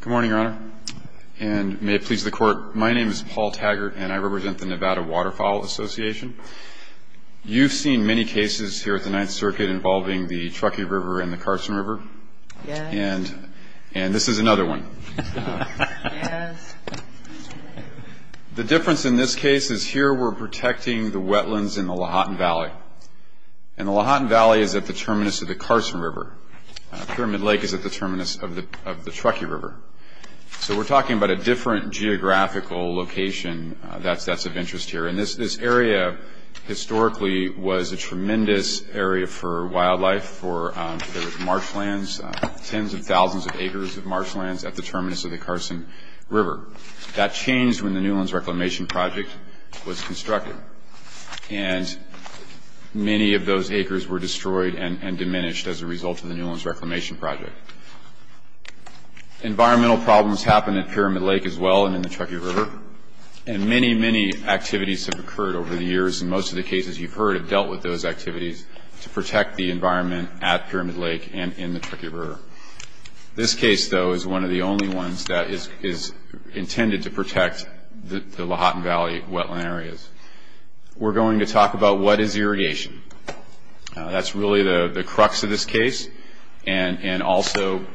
Good morning, Your Honor, and may it please the Court, my name is Paul Taggart and I represent the Nevada Waterfowl Association. You've seen many cases here at the Ninth Circuit involving the Truckee River and the Carson River. Yes. And this is another one. Yes. The difference in this case is here we're protecting the wetlands in the Lahontan Valley. And the Lahontan Valley is at the terminus of the Carson River. Pyramid Lake is at the terminus of the Truckee River. So we're talking about a different geographical location that's of interest here. And this area historically was a tremendous area for wildlife, for marshlands, tens of thousands of acres of marshlands at the terminus of the Carson River. That changed when the Newlands Reclamation Project was constructed. And many of those acres were destroyed and diminished as a result of the Newlands Reclamation Project. Environmental problems happen at Pyramid Lake as well and in the Truckee River. And many, many activities have occurred over the years, and most of the cases you've heard have dealt with those activities to protect the environment at Pyramid Lake and in the Truckee River. This case, though, is one of the only ones that is intended to protect the Lahontan Valley wetland areas. We're going to talk about what is irrigation. That's really the crux of this case, and also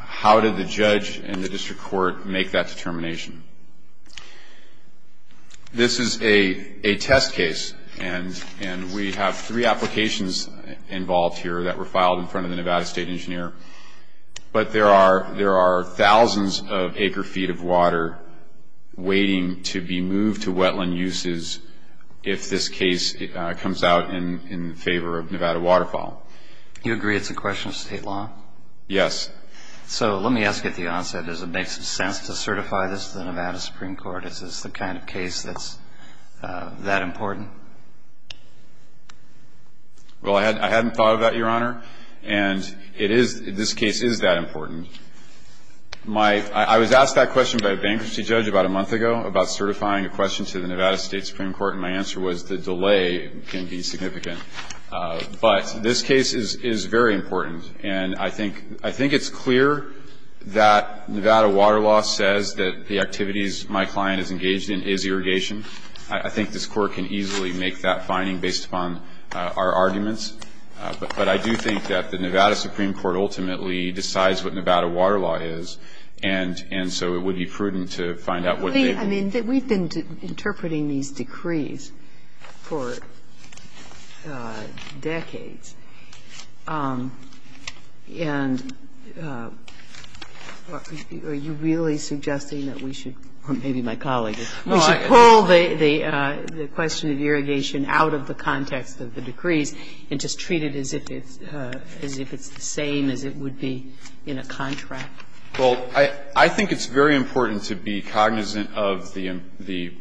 how did the judge and the district court make that determination. This is a test case, and we have three applications involved here that were filed in front of the Nevada State Engineer. But there are thousands of acre feet of water waiting to be moved to wetland uses if this case comes out in favor of Nevada waterfowl. You agree it's a question of state law? Yes. So let me ask you at the onset, does it make sense to certify this to the Nevada Supreme Court? Is this the kind of case that's that important? Well, I hadn't thought of that, Your Honor, and this case is that important. I was asked that question by a bankruptcy judge about a month ago about certifying a question to the Nevada State Supreme Court, and my answer was the delay can be significant. But this case is very important, and I think it's clear that Nevada water law says that the activities my client is engaged in is irrigation. I think this Court can easily make that finding based upon our arguments. But I do think that the Nevada Supreme Court ultimately decides what Nevada water law is, and so it would be prudent to find out what they believe. I mean, we've been interpreting these decrees for decades, and are you really suggesting that we should, or maybe my colleague, we should pull the question of irrigation out of the context of the decrees and just treat it as if it's the same as it would be in a contract? Well, I think it's very important to be cognizant of the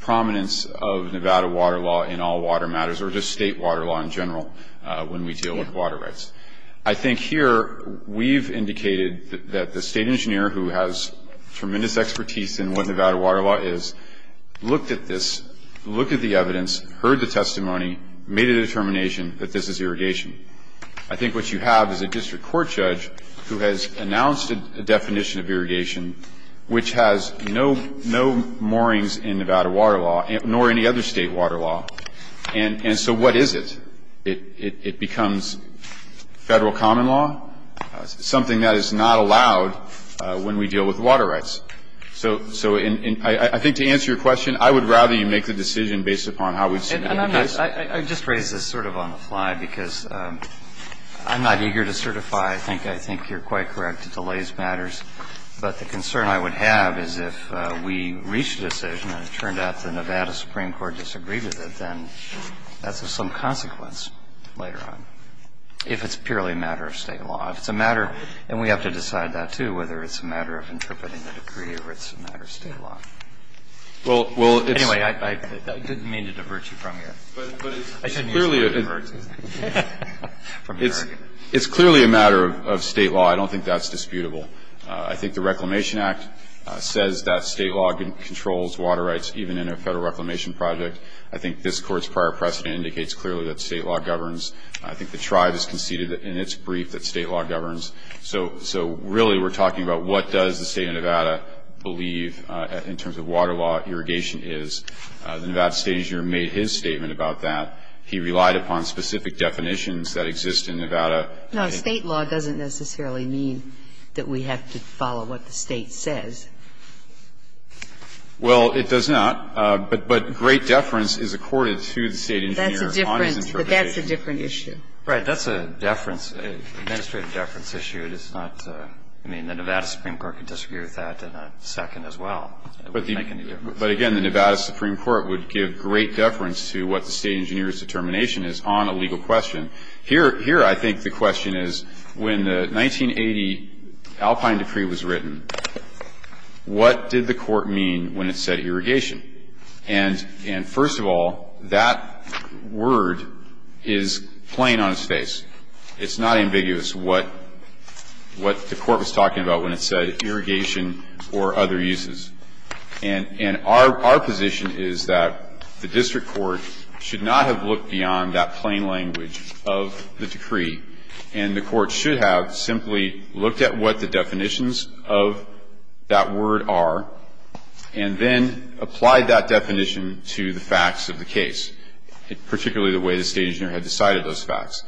prominence of Nevada water law in all water matters or just state water law in general when we deal with water rights. I think here we've indicated that the state engineer who has tremendous expertise in what Nevada water law is looked at this, looked at the evidence, heard the testimony, made a determination that this is irrigation. I think what you have is a district court judge who has announced a definition of irrigation which has no moorings in Nevada water law nor any other state water law. And so what is it? It becomes Federal common law, something that is not allowed when we deal with water rights. So I think to answer your question, I would rather you make the decision based upon how we've seen it in the past. And I'm going to just raise this sort of on the fly because I'm not eager to certify. I think you're quite correct. Delays matters. But the concern I would have is if we reach a decision and it turned out the Nevada Supreme Court disagreed with it, then that's of some consequence later on if it's purely a matter of state law. If it's a matter, and we have to decide that too, whether it's a matter of interpreting the decree or it's a matter of state law. Anyway, I didn't mean to divert you from your argument. It's clearly a matter of state law. I don't think that's disputable. I think the Reclamation Act says that state law controls water rights even in a Federal Reclamation project. I think this Court's prior precedent indicates clearly that state law governs. I think the tribe has conceded in its brief that state law governs. So really we're talking about what does the State of Nevada believe in terms of water law irrigation is. The Nevada State Engineer made his statement about that. He relied upon specific definitions that exist in Nevada. It's a matter of state law. But I think the State of Nevada believes in that. But I think the State of Nevada believes in that. Kagan. No, state law doesn't necessarily mean that we have to follow what the State says. Well, it does not. But great deference is accorded to the State Engineer on his interpretation. That's a different issue. That's a deference, an administrative deference issue. I mean, the Nevada Supreme Court can disagree with that in a second as well. But, again, the Nevada Supreme Court would give great deference to what the State Engineer's determination is on a legal question. Here I think the question is when the 1980 Alpine Decree was written, what did the Court mean when it said irrigation? And, first of all, that word is plain on its face. It's not ambiguous what the Court was talking about when it said irrigation or other uses. And our position is that the district court should not have looked beyond that plain language of the decree. And the Court should have simply looked at what the definitions of that word are and then applied that definition to the facts of the case, particularly the way the State Engineer had decided those facts.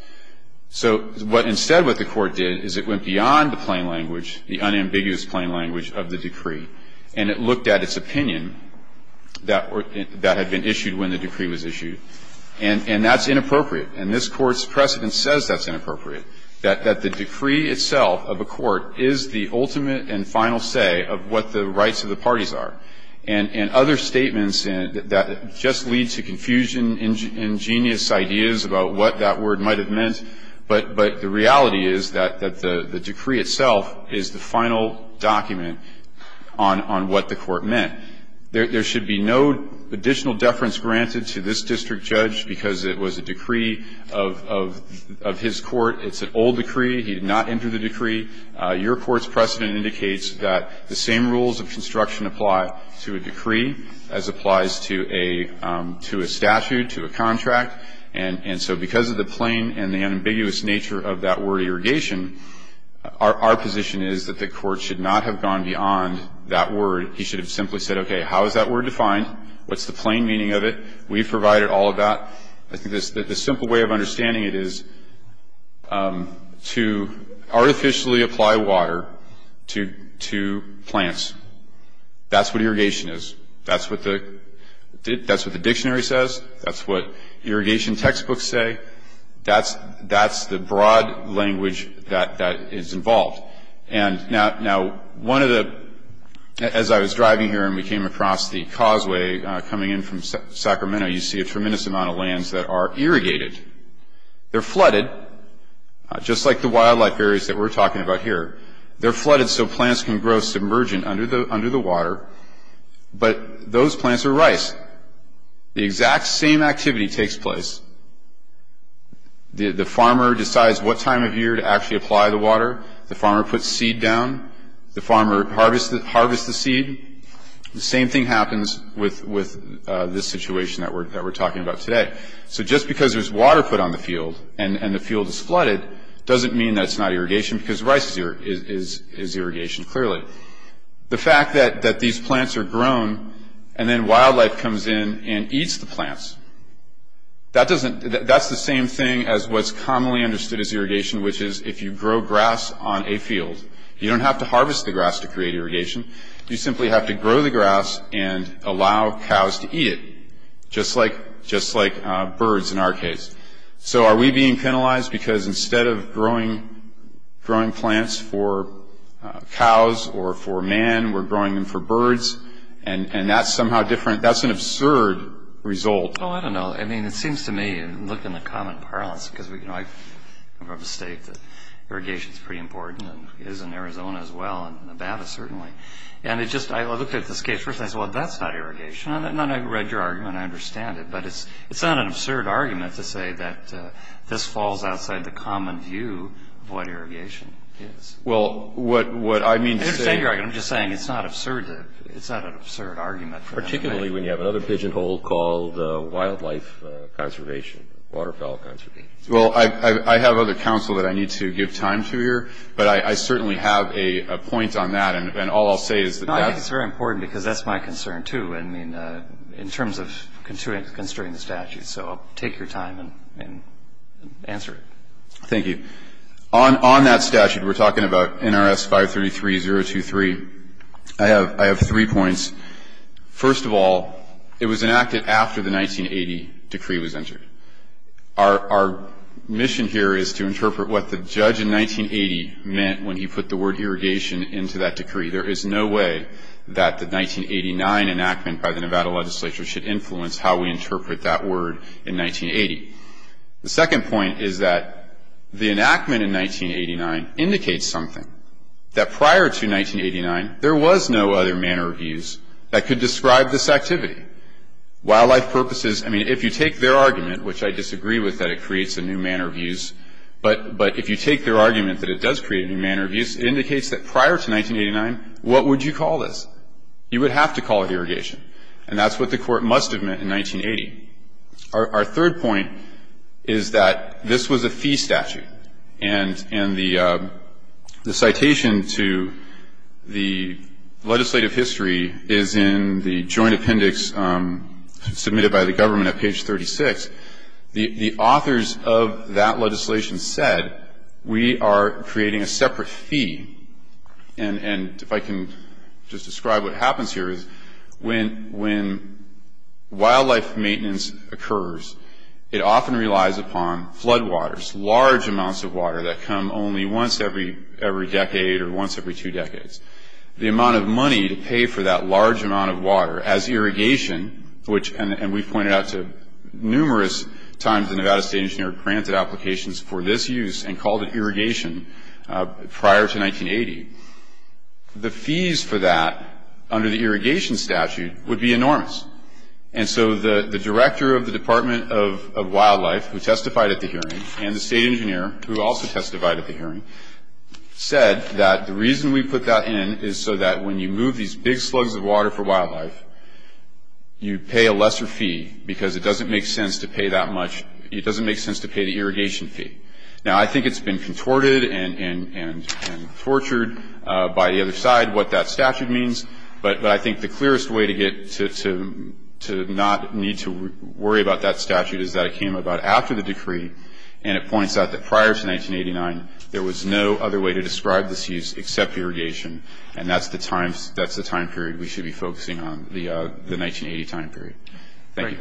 So instead what the Court did is it went beyond the plain language, the unambiguous plain language of the decree, and it looked at its opinion that had been issued when the decree was issued. And that's inappropriate. And this Court's precedent says that's inappropriate, that the decree itself of a court is the ultimate and final say of what the rights of the parties are. And other statements that just lead to confusion, ingenious ideas about what that word might have meant, but the reality is that the decree itself is the final document on what the Court meant. There should be no additional deference granted to this district judge because it was a decree of his court. It's an old decree. He did not enter the decree. Your Court's precedent indicates that the same rules of construction apply to a decree as applies to a statute, to a contract. And so because of the plain and the unambiguous nature of that word, irrigation, our position is that the Court should not have gone beyond that word. He should have simply said, okay, how is that word defined? What's the plain meaning of it? We've provided all of that. I think the simple way of understanding it is to artificially apply water to plants. That's what irrigation is. That's what the dictionary says. That's what irrigation textbooks say. That's the broad language that is involved. And now one of the – as I was driving here and we came across the causeway coming in from Sacramento, you see a tremendous amount of lands that are irrigated. They're flooded, just like the wildlife areas that we're talking about here. They're flooded so plants can grow submergent under the water. But those plants are rice. The exact same activity takes place. The farmer decides what time of year to actually apply the water. The farmer puts seed down. The farmer harvests the seed. The same thing happens with this situation that we're talking about today. So just because there's water put on the field and the field is flooded doesn't mean that it's not irrigation because rice is irrigation, clearly. The fact that these plants are grown and then wildlife comes in and eats the plants, that's the same thing as what's commonly understood as irrigation, which is if you grow grass on a field, you don't have to harvest the grass to create irrigation. You simply have to grow the grass and allow cows to eat it, just like birds in our case. So are we being penalized because instead of growing plants for cows or for man, we're growing them for birds? And that's somehow different. That's an absurd result. Oh, I don't know. I mean, it seems to me, looking at the common parlance, because I make the mistake that irrigation is pretty important, and it is in Arizona as well, and in Nevada certainly. And I looked at this case first and I said, well, that's not irrigation. And I read your argument and I understand it, but it's not an absurd argument to say that this falls outside the common view of what irrigation is. Well, what I mean to say – I understand your argument. I'm just saying it's not absurd. It's not an absurd argument. Particularly when you have another pigeonhole called wildlife conservation, waterfowl conservation. Well, I have other counsel that I need to give time to here, but I certainly have a point on that. And all I'll say is that that's – No, I think it's very important because that's my concern too, I mean, in terms of construing the statute. So I'll take your time and answer it. Thank you. On that statute, we're talking about NRS 533-023. I have three points. First of all, it was enacted after the 1980 decree was entered. Our mission here is to interpret what the judge in 1980 meant when he put the word irrigation into that decree. There is no way that the 1989 enactment by the Nevada legislature should influence how we interpret that word in 1980. The second point is that the enactment in 1989 indicates something. That prior to 1989, there was no other manner of use that could describe this activity. Wildlife purposes – I mean, if you take their argument, which I disagree with, that it creates a new manner of use, but if you take their argument that it does create a new manner of use, it indicates that prior to 1989, what would you call this? You would have to call it irrigation. And that's what the Court must have meant in 1980. Our third point is that this was a fee statute. And the citation to the legislative history is in the joint appendix submitted by the government at page 36. The authors of that legislation said, we are creating a separate fee. And if I can just describe what happens here is when wildlife maintenance occurs, it often relies upon floodwaters, large amounts of water that come only once every decade or once every two decades. The amount of money to pay for that large amount of water as irrigation, which – and we pointed out to numerous times the Nevada State Engineer granted applications for this use and called it irrigation prior to 1980. The fees for that under the irrigation statute would be enormous. And so the Director of the Department of Wildlife, who testified at the hearing, and the State Engineer, who also testified at the hearing, said that the reason we put that in is so that when you move these big slugs of water for wildlife, you pay a lesser fee because it doesn't make sense to pay that much – it doesn't make sense to pay the irrigation fee. Now, I think it's been contorted and tortured by the other side what that statute means. But I think the clearest way to get to not need to worry about that statute is that it came about after the decree. And it points out that prior to 1989, there was no other way to describe this use except irrigation. And that's the time – that's the time period we should be focusing on, the 1980 time period. Thank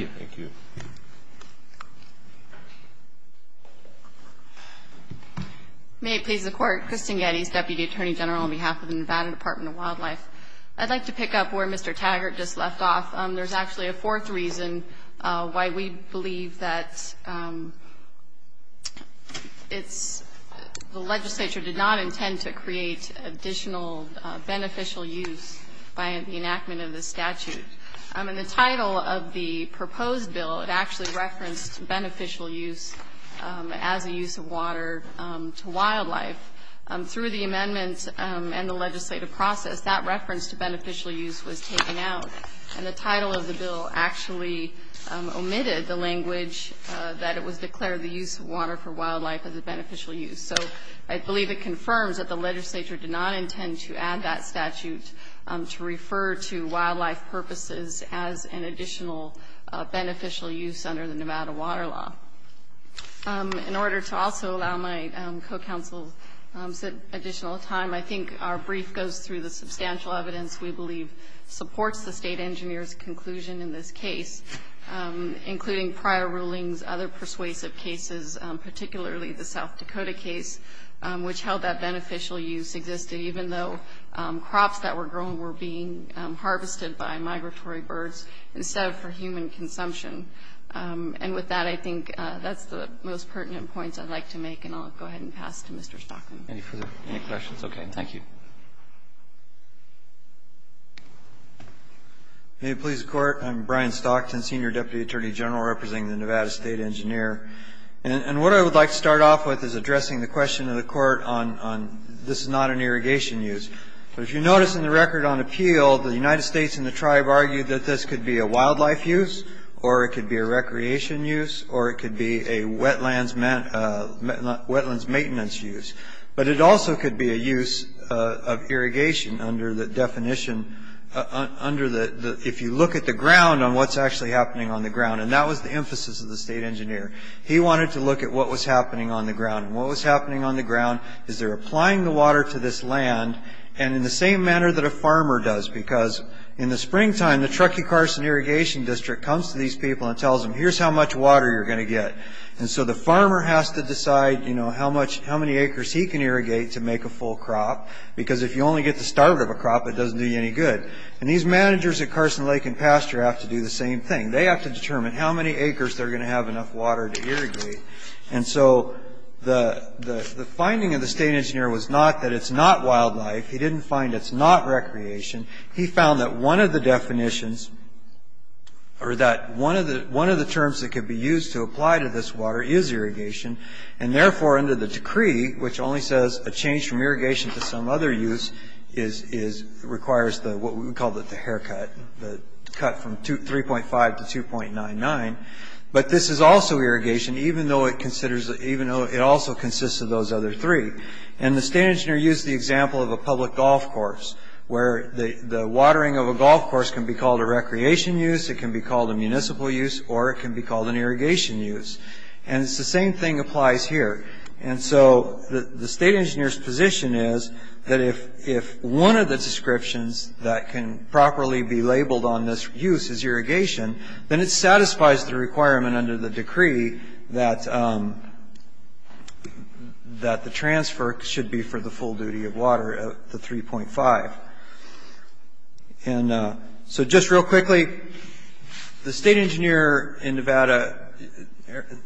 you. May it please the Court. Kristin Geddes, Deputy Attorney General on behalf of the Nevada Department of Wildlife. I'd like to pick up where Mr. Taggart just left off. There's actually a fourth reason why we believe that it's – the legislature did not intend to create additional beneficial use by the enactment of this statute. In the title of the proposed bill, it actually referenced beneficial use as a use of water to wildlife. Through the amendments and the legislative process, that reference to beneficial use was taken out. And the title of the bill actually omitted the language that it was declared the use of water for wildlife as a beneficial use. So I believe it confirms that the legislature did not intend to add that statute to refer to wildlife purposes as an additional beneficial use under the Nevada Water Law. In order to also allow my co-counsel some additional time, I think our brief goes through the substantial evidence we believe supports the state engineer's conclusion in this case, including prior rulings, other persuasive cases, particularly the South Dakota case, which held that beneficial use existed, even though crops that were grown were being harvested by migratory birds instead of for human consumption. And with that, I think that's the most pertinent points I'd like to make. And I'll go ahead and pass to Mr. Stockton. Any questions? Okay, thank you. May it please the Court, I'm Brian Stockton, Senior Deputy Attorney General representing the Nevada State Engineer. And what I would like to start off with is addressing the question of the Court on this is not an irrigation use. But if you notice in the record on appeal, the United States and the tribe argued that this could be a wildlife use, or it could be a recreation use, or it could be a wetlands maintenance use. But it also could be a use of irrigation under the definition, if you look at the ground, on what's actually happening on the ground. And that was the emphasis of the state engineer. He wanted to look at what was happening on the ground. And what was happening on the ground is they're applying the water to this land, and in the same manner that a farmer does. Because in the springtime, the Truckee-Carson Irrigation District comes to these people and tells them, here's how much water you're going to get. And so the farmer has to decide how many acres he can irrigate to make a full crop. Because if you only get the start of a crop, it doesn't do you any good. And these managers at Carson Lake and Pasture have to do the same thing. They have to determine how many acres they're going to have enough water to irrigate. And so the finding of the state engineer was not that it's not wildlife. He didn't find it's not recreation. He found that one of the definitions, or that one of the terms that could be used to apply to this water is irrigation. And therefore, under the decree, which only says a change from irrigation to some other use, requires what we call the haircut, the cut from 3.5 to 2.99. But this is also irrigation, even though it also consists of those other three. And the state engineer used the example of a public golf course, where the watering of a golf course can be called a recreation use, it can be called a municipal use, or it can be called an irrigation use. And the same thing applies here. And so the state engineer's position is that if one of the descriptions that can properly be labeled on this use is irrigation, then it satisfies the requirement under the decree that the transfer should be for the full duty of water, the 3.5. And so just real quickly, the state engineer in Nevada,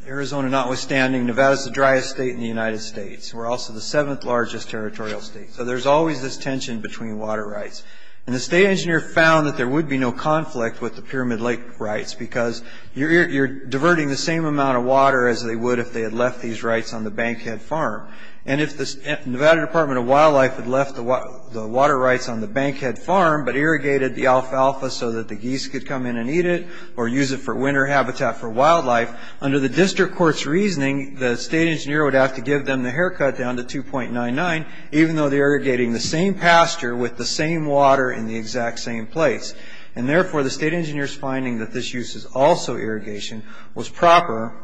Arizona notwithstanding, Nevada's the driest state in the United States. We're also the seventh largest territorial state. So there's always this tension between water rights. And the state engineer found that there would be no conflict with the Pyramid Lake rights because you're diverting the same amount of water as they would if they had left these rights on the Bankhead Farm. And if the Nevada Department of Wildlife had left the water rights on the Bankhead Farm but irrigated the alfalfa so that the geese could come in and eat it or use it for winter habitat for wildlife, under the district court's reasoning, the state engineer would have to give them the haircut down to 2.99 even though they're irrigating the same pasture with the same water in the exact same place. And therefore, the state engineer's finding that this use is also irrigation was proper.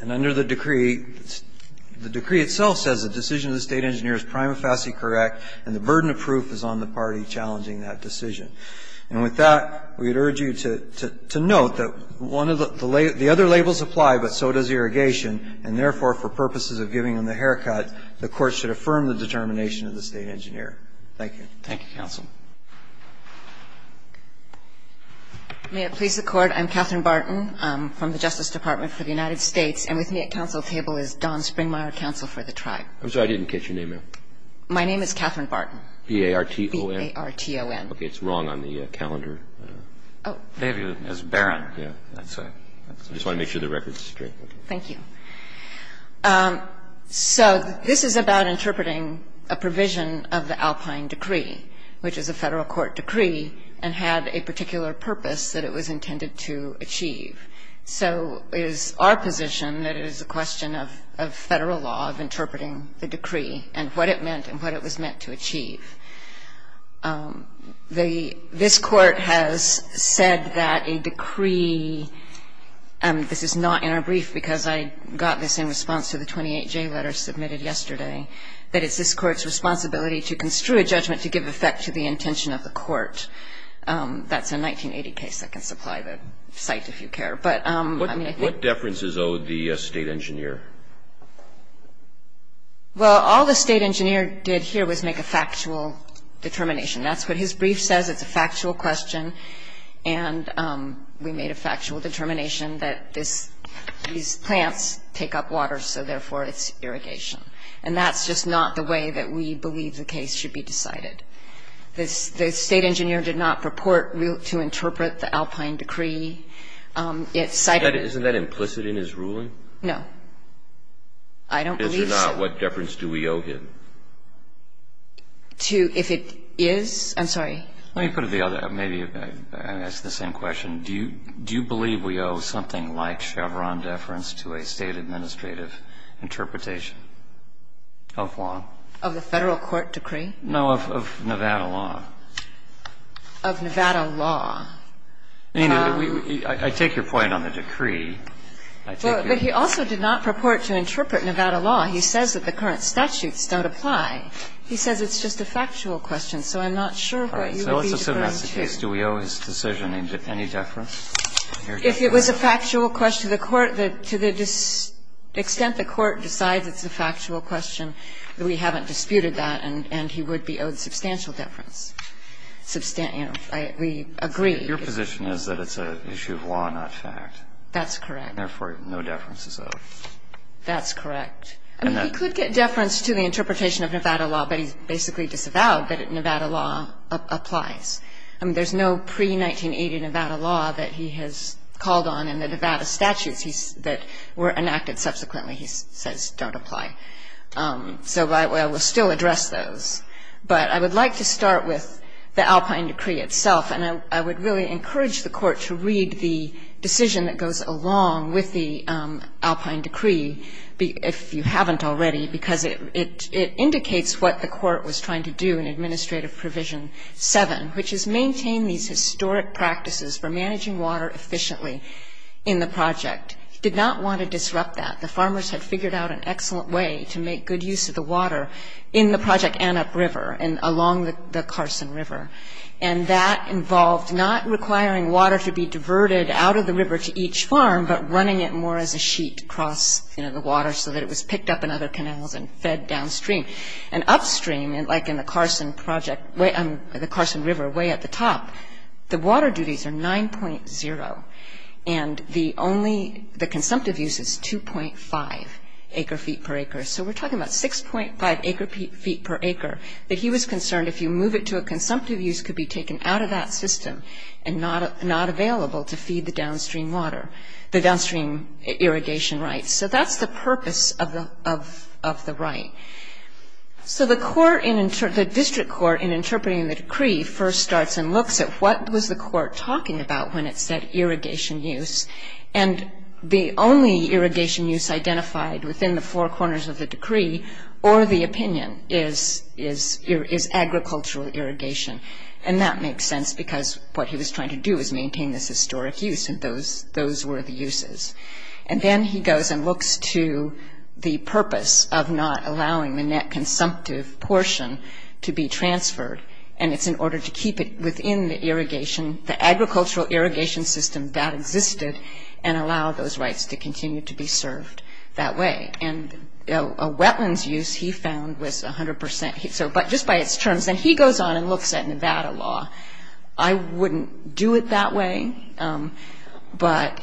And under the decree, the decree itself says the decision of the state engineer is prima facie correct, and the burden of proof is on the party challenging that decision. And with that, we would urge you to note that the other labels apply, but so does irrigation. And therefore, for purposes of giving them the haircut, the court should affirm the determination of the state engineer. Thank you. Thank you, counsel. May it please the Court. I'm Catherine Barton from the Justice Department for the United States. And with me at counsel table is Don Springmeyer, counsel for the tribe. I'm sorry. I didn't catch your name there. My name is Catherine Barton. B-A-R-T-O-N. B-A-R-T-O-N. Okay. It's wrong on the calendar. B-A-R-T-O-N. Yeah. That's it. I just want to make sure the record's straight. Thank you. So this is about interpreting a provision of the Alpine decree, which is a Federal court decree, and had a particular purpose that it was intended to achieve. So it is our position that it is a question of Federal law, of interpreting the decree, and what it meant and what it was meant to achieve. This Court has said that a decree, and this is not in our brief because I got this in response to the 28J letter submitted yesterday, that it's this Court's responsibility to construe a judgment to give effect to the intention of the court. That's a 1980 case. I can supply the site if you care. But I mean, I think that's the case. What deference is owed the State engineer? Well, all the State engineer did here was make a factual determination. That's what his brief says. It's a factual question. And we made a factual determination that this – these plants take up water, so therefore it's irrigation. And that's just not the way that we believe the case should be decided. The State engineer did not purport to interpret the Alpine decree. It cited – Isn't that implicit in his ruling? No. I don't believe so. If it's not, what deference do we owe him? To – if it is? I'm sorry. Let me put it the other – maybe ask the same question. Do you believe we owe something like Chevron deference to a State administrative interpretation of law? Of the Federal court decree? No, of Nevada law. Of Nevada law. I mean, I take your point on the decree. Well, but he also did not purport to interpret Nevada law. He says that the current statutes don't apply. He says it's just a factual question, so I'm not sure what you would be deferring to. All right. So let's assume that's the case. Do we owe his decision any deference? If it was a factual question, the court – to the extent the court decides it's a factual question, we haven't disputed that, and he would be owed substantial deference. You know, we agree. Your position is that it's an issue of law, not fact. That's correct. Therefore, no deference is owed. That's correct. I mean, he could get deference to the interpretation of Nevada law, but he's basically disavowed that Nevada law applies. I mean, there's no pre-1980 Nevada law that he has called on in the Nevada statutes that were enacted subsequently he says don't apply. So I will still address those. But I would like to start with the Alpine decree itself, and I would really encourage the court to read the decision that goes along with the Alpine decree, if you haven't already, because it indicates what the court was trying to do in Administrative Provision 7, which is maintain these historic practices for managing water efficiently in the project. Did not want to disrupt that. The farmers had figured out an excellent way to make good use of the water in the Project Annup River and along the Carson River. And that involved not requiring water to be diverted out of the river to each farm, but running it more as a sheet across, you know, the water so that it was picked up in other canals and fed downstream. And upstream, like in the Carson project, the Carson River way at the top, the water duties are 9.0, and the only, the consumptive use is 2.5 acre feet per acre. So we're talking about 6.5 acre feet per acre that he was concerned if you move it to a consumptive use could be taken out of that system and not available to feed the downstream water, the downstream irrigation rights. So that's the purpose of the right. So the court in, the district court in interpreting the decree first starts and looks at what was the court talking about when it said irrigation use. And the only irrigation use identified within the four corners of the decree or the opinion is agricultural irrigation. And that makes sense because what he was trying to do was maintain this historic use, and those were the uses. And then he goes and looks to the purpose of not allowing the net consumptive portion to be transferred, and it's in order to keep it within the irrigation, the agricultural irrigation system that existed, and allow those rights to continue to be served that way. And a wetlands use he found was 100 percent. So just by its terms. And he goes on and looks at Nevada law. I wouldn't do it that way, but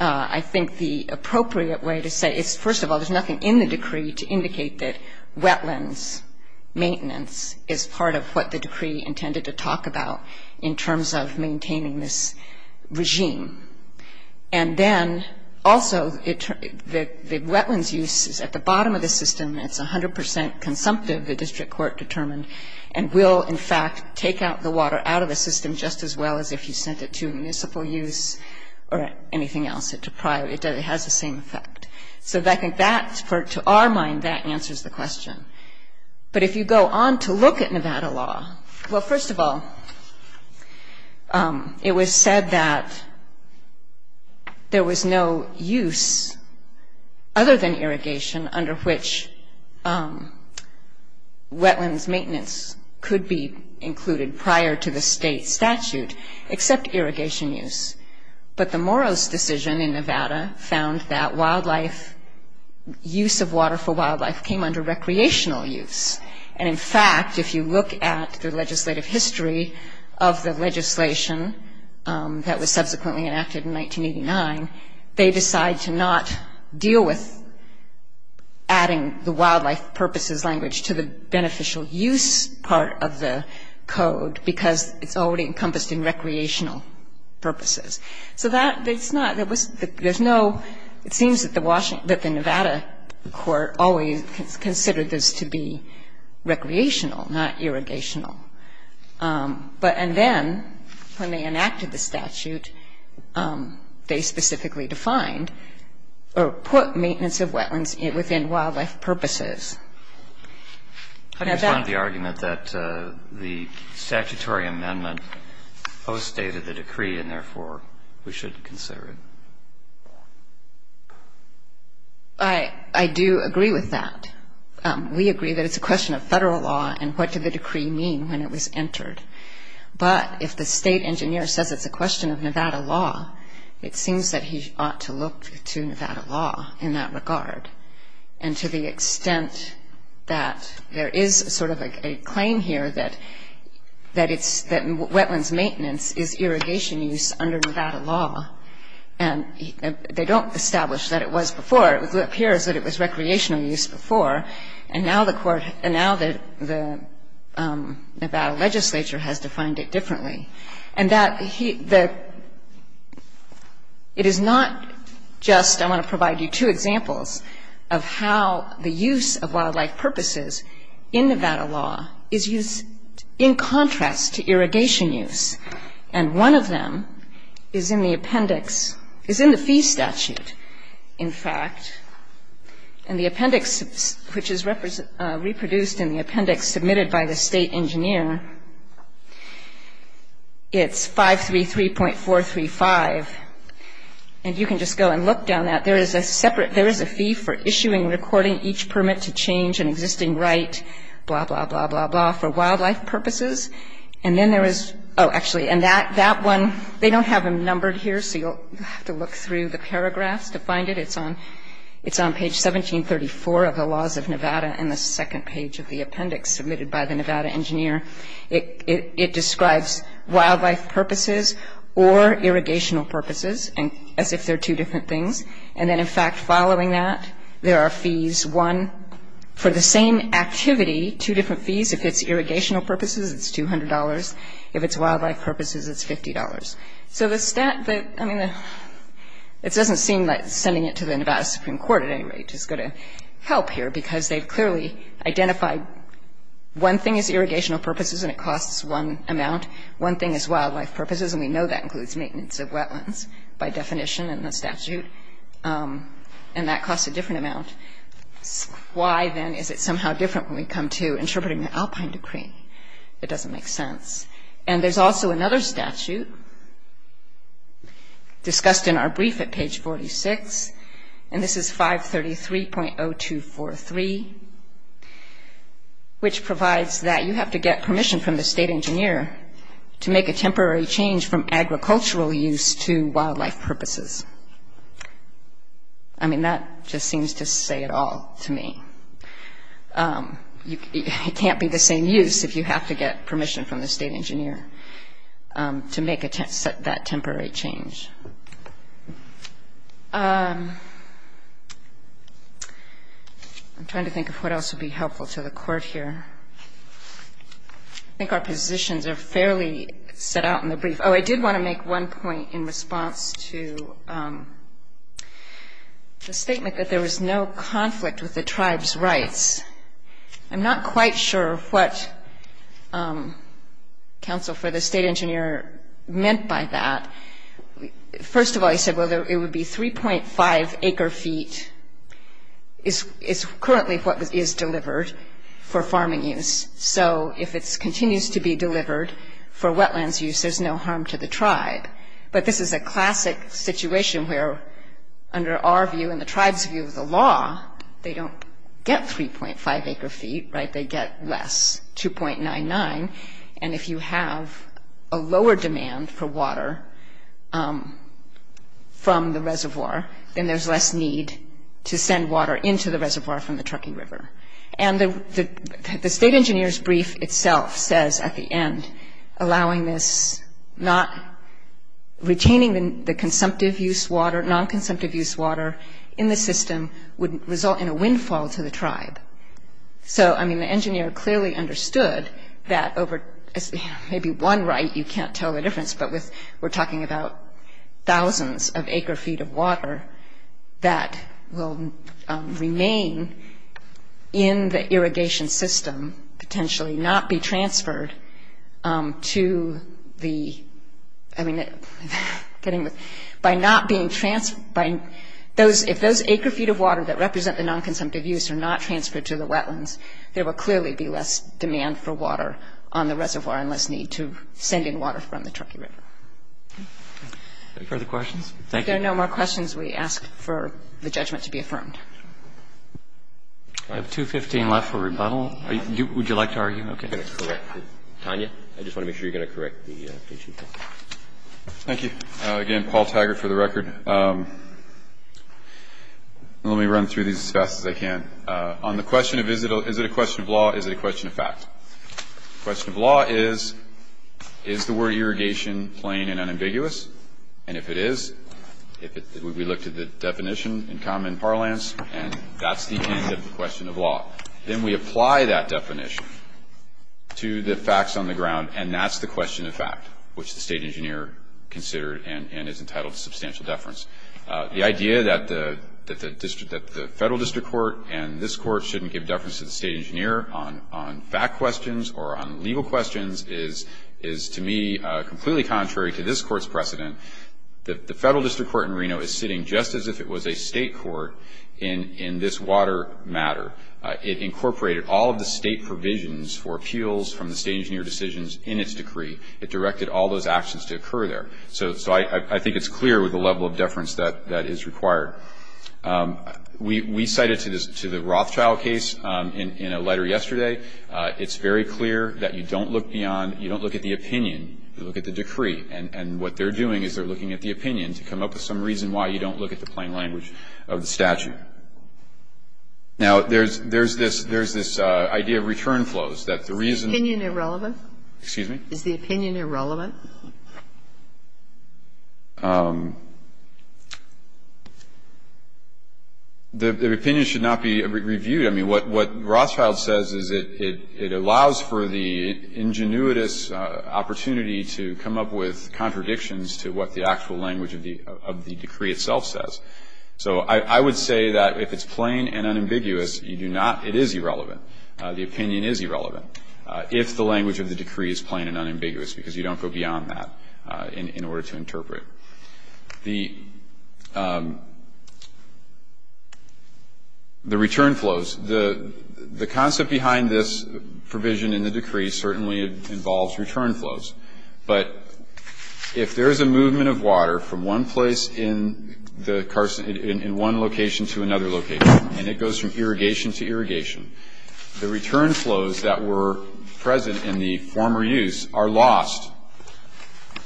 I think the appropriate way to say it is, first of all, there's nothing in the decree to indicate that wetlands maintenance is part of what the decree intended to talk about in terms of maintaining this regime. And then, also, the wetlands use is at the bottom of the system. It's 100 percent consumptive, the district court determined, and will, in fact, take out the water out of the system just as well as if you sent it to municipal use or anything else. It has the same effect. So I think that, to our mind, that answers the question. But if you go on to look at Nevada law, well, first of all, it was said that there was no use other than irrigation under which wetlands maintenance could be included prior to the state statute except irrigation use. But the Moros decision in Nevada found that wildlife use of water for wildlife came under recreational use. And, in fact, if you look at the legislative history of the legislation that was subsequently enacted in 1989, they decide to not deal with adding the wildlife purposes language to the beneficial use part of the code because it's already encompassed in recreational purposes. So that's not, there's no, it seems that the Nevada court always considered this to be recreational, not irrigational. But, and then, when they enacted the statute, they specifically defined or put maintenance of wetlands within wildlife purposes. And that's... How do you respond to the argument that the statutory amendment postdated the decree and, therefore, we should consider it? I do agree with that. We agree that it's a question of federal law and what did the decree mean when it was entered. But if the state engineer says it's a question of Nevada law, it seems that he ought to look to Nevada law in that regard. And to the extent that there is sort of a claim here that wetlands maintenance is irrigation use under Nevada law. And they don't establish that it was before. It appears that it was recreational use before. And now the court, and now the Nevada legislature has defined it differently. And that it is not just, I want to provide you two examples of how the use of wildlife purposes in Nevada law is used in contrast to irrigation use. And one of them is in the appendix, is in the fee statute, in fact. And the appendix, which is reproduced in the appendix submitted by the state engineer, it's 533.435. And you can just go and look down that. There is a separate, there is a fee for issuing, recording each permit to change an existing right, blah, blah, blah, blah, blah, for wildlife purposes. And then there is, oh, actually, and that one, they don't have them numbered here, so you'll have to look through the paragraphs to find it. It's on page 1734 of the laws of Nevada in the second page of the appendix submitted by the Nevada engineer. It describes wildlife purposes or irrigational purposes as if they're two different things. And then, in fact, following that, there are fees, one, for the same activity, two different fees. If it's irrigational purposes, it's $200. If it's wildlife purposes, it's $50. So the stat that, I mean, it doesn't seem like sending it to the Nevada Supreme Court at any rate is going to help here, because they've clearly identified one thing is irrigational purposes and it costs one amount. One thing is wildlife purposes, and we know that includes maintenance of wetlands by definition in the statute. And that costs a different amount. Why, then, is it somehow different when we come to interpreting the Alpine decree? It doesn't make sense. And there's also another statute discussed in our brief at page 46, and this is 533.0243, which provides that you have to get permission from the state engineer to make a temporary change from agricultural use to wildlife purposes. I mean, that just seems to say it all to me. It can't be the same use if you have to get permission from the state engineer to make that temporary change. I'm trying to think of what else would be helpful to the Court here. I think our positions are fairly set out in the brief. Oh, I did want to make one point in response to the statement that there was no conflict with the tribe's rights. I'm not quite sure what counsel for the state engineer meant by that. First of all, he said, well, it would be 3.5 acre feet is currently what is delivered for farming use. So if it continues to be delivered for wetlands use, there's no harm to the tribe. But this is a classic situation where, under our view and the tribe's view of the law, they don't get 3.5 acre feet, right? They get less, 2.99. And if you have a lower demand for water from the reservoir, then there's less need to send water into the reservoir from the Truckee River. And the state engineer's brief itself says at the end, retaining the consumptive use water, non-consumptive use water in the system would result in a windfall to the tribe. So, I mean, the engineer clearly understood that over maybe one right, you can't tell the difference, but we're talking about thousands of acre feet of water that will remain in the irrigation system, potentially not be transferred to the, I mean, getting the, by not being, if those acre feet of water that represent the non-consumptive use are not transferred to the wetlands, there will clearly be less demand for water on the reservoir and less need to send in water from the Truckee River. Any further questions? Thank you. If there are no more questions, we ask for the judgment to be affirmed. I have 2.15 left for rebuttal. Would you like to argue? Okay. I'm going to correct Tanya. I just want to make sure you're going to correct the Chief Justice. Thank you. Again, Paul Taggart for the record. Let me run through these as fast as I can. On the question of is it a question of law, is it a question of fact? The question of law is, is the word irrigation plain and unambiguous? And if it is, we look to the definition in common parlance, and that's the end of the question of law. Then we apply that definition to the facts on the ground, and that's the question of fact, which the State Engineer considered and is entitled to substantial deference. The idea that the Federal District Court and this Court shouldn't give deference to the State Engineer on fact questions or on legal questions is, to me, completely contrary to this Court's precedent. The Federal District Court in Reno is sitting just as if it was a state court in this water matter. It incorporated all of the state provisions for appeals from the State Engineer decisions in its decree. It directed all those actions to occur there. So I think it's clear with the level of deference that is required. We cite it to the Rothschild case in a letter yesterday. It's very clear that you don't look beyond, you don't look at the opinion. You look at the decree. And what they're doing is they're looking at the opinion to come up with some reason why you don't look at the plain language of the statute. Now, there's this idea of return flows, that the reason the reason. Is the opinion irrelevant? Excuse me? Is the opinion irrelevant? The opinion should not be reviewed. I mean, what Rothschild says is it allows for the ingenuitous opportunity to come up with contradictions to what the actual language of the decree itself says. So I would say that if it's plain and unambiguous, you do not, it is irrelevant. The opinion is irrelevant. If the language of the decree is plain and unambiguous, because you don't go beyond that in order to interpret. The return flows. The concept behind this provision in the decree certainly involves return flows. But if there is a movement of water from one place in one location to another location, and it goes from irrigation to irrigation, the return flows that were present in the former use are lost.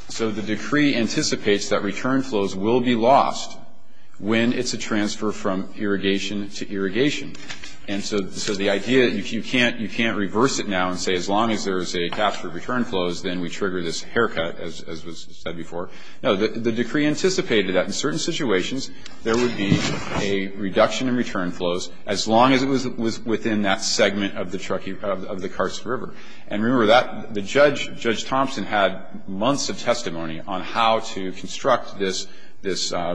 So the decree anticipates that return flows will be lost when it's a transfer from irrigation to irrigation. And so the idea that you can't reverse it now and say as long as there is a capture of return flows, then we trigger this haircut, as was said before. No, the decree anticipated that in certain situations there would be a reduction in return flows as long as it was within that segment of the Karst River. And remember that the judge, Judge Thompson, had months of testimony on how to construct this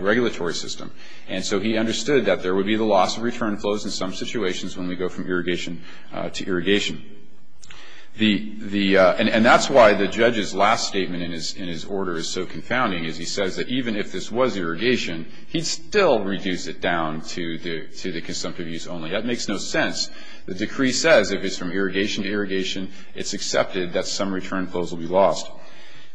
regulatory system. And so he understood that there would be the loss of return flows in some situations when we go from irrigation to irrigation. And that's why the judge's last statement in his order is so confounding, is he says that even if this was irrigation, he'd still reduce it down to the consumptive use only. That makes no sense. The decree says if it's from irrigation to irrigation, it's accepted that some return flows will be lost.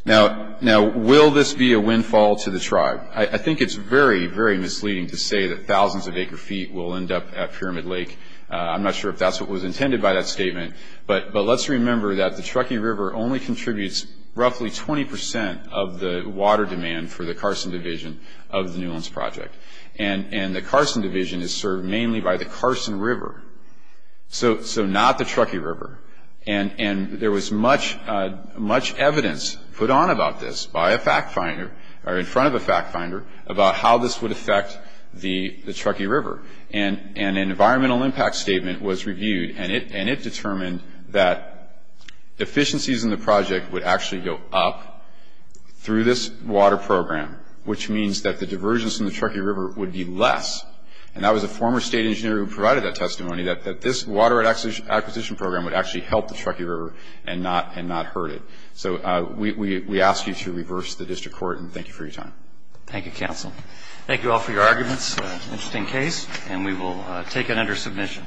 Now, will this be a windfall to the tribe? I think it's very, very misleading to say that thousands of acre feet will end up at Pyramid Lake. I'm not sure if that's what was intended by that statement. But let's remember that the Truckee River only contributes roughly 20 percent of the water demand for the Carson Division of the New Owns Project. And the Carson Division is served mainly by the Carson River, so not the Truckee River. And there was much evidence put on about this by a fact finder, or in front of a fact finder, about how this would affect the Truckee River. And an environmental impact statement was reviewed, and it determined that efficiencies in the project would actually go up through this water program, which means that the diversions in the Truckee River would be less. And that was a former state engineer who provided that testimony, that this water acquisition program would actually help the Truckee River and not hurt it. So we ask you to reverse the district court, and thank you for your time. Thank you, counsel. Thank you all for your arguments. Interesting case, and we will take it under submission.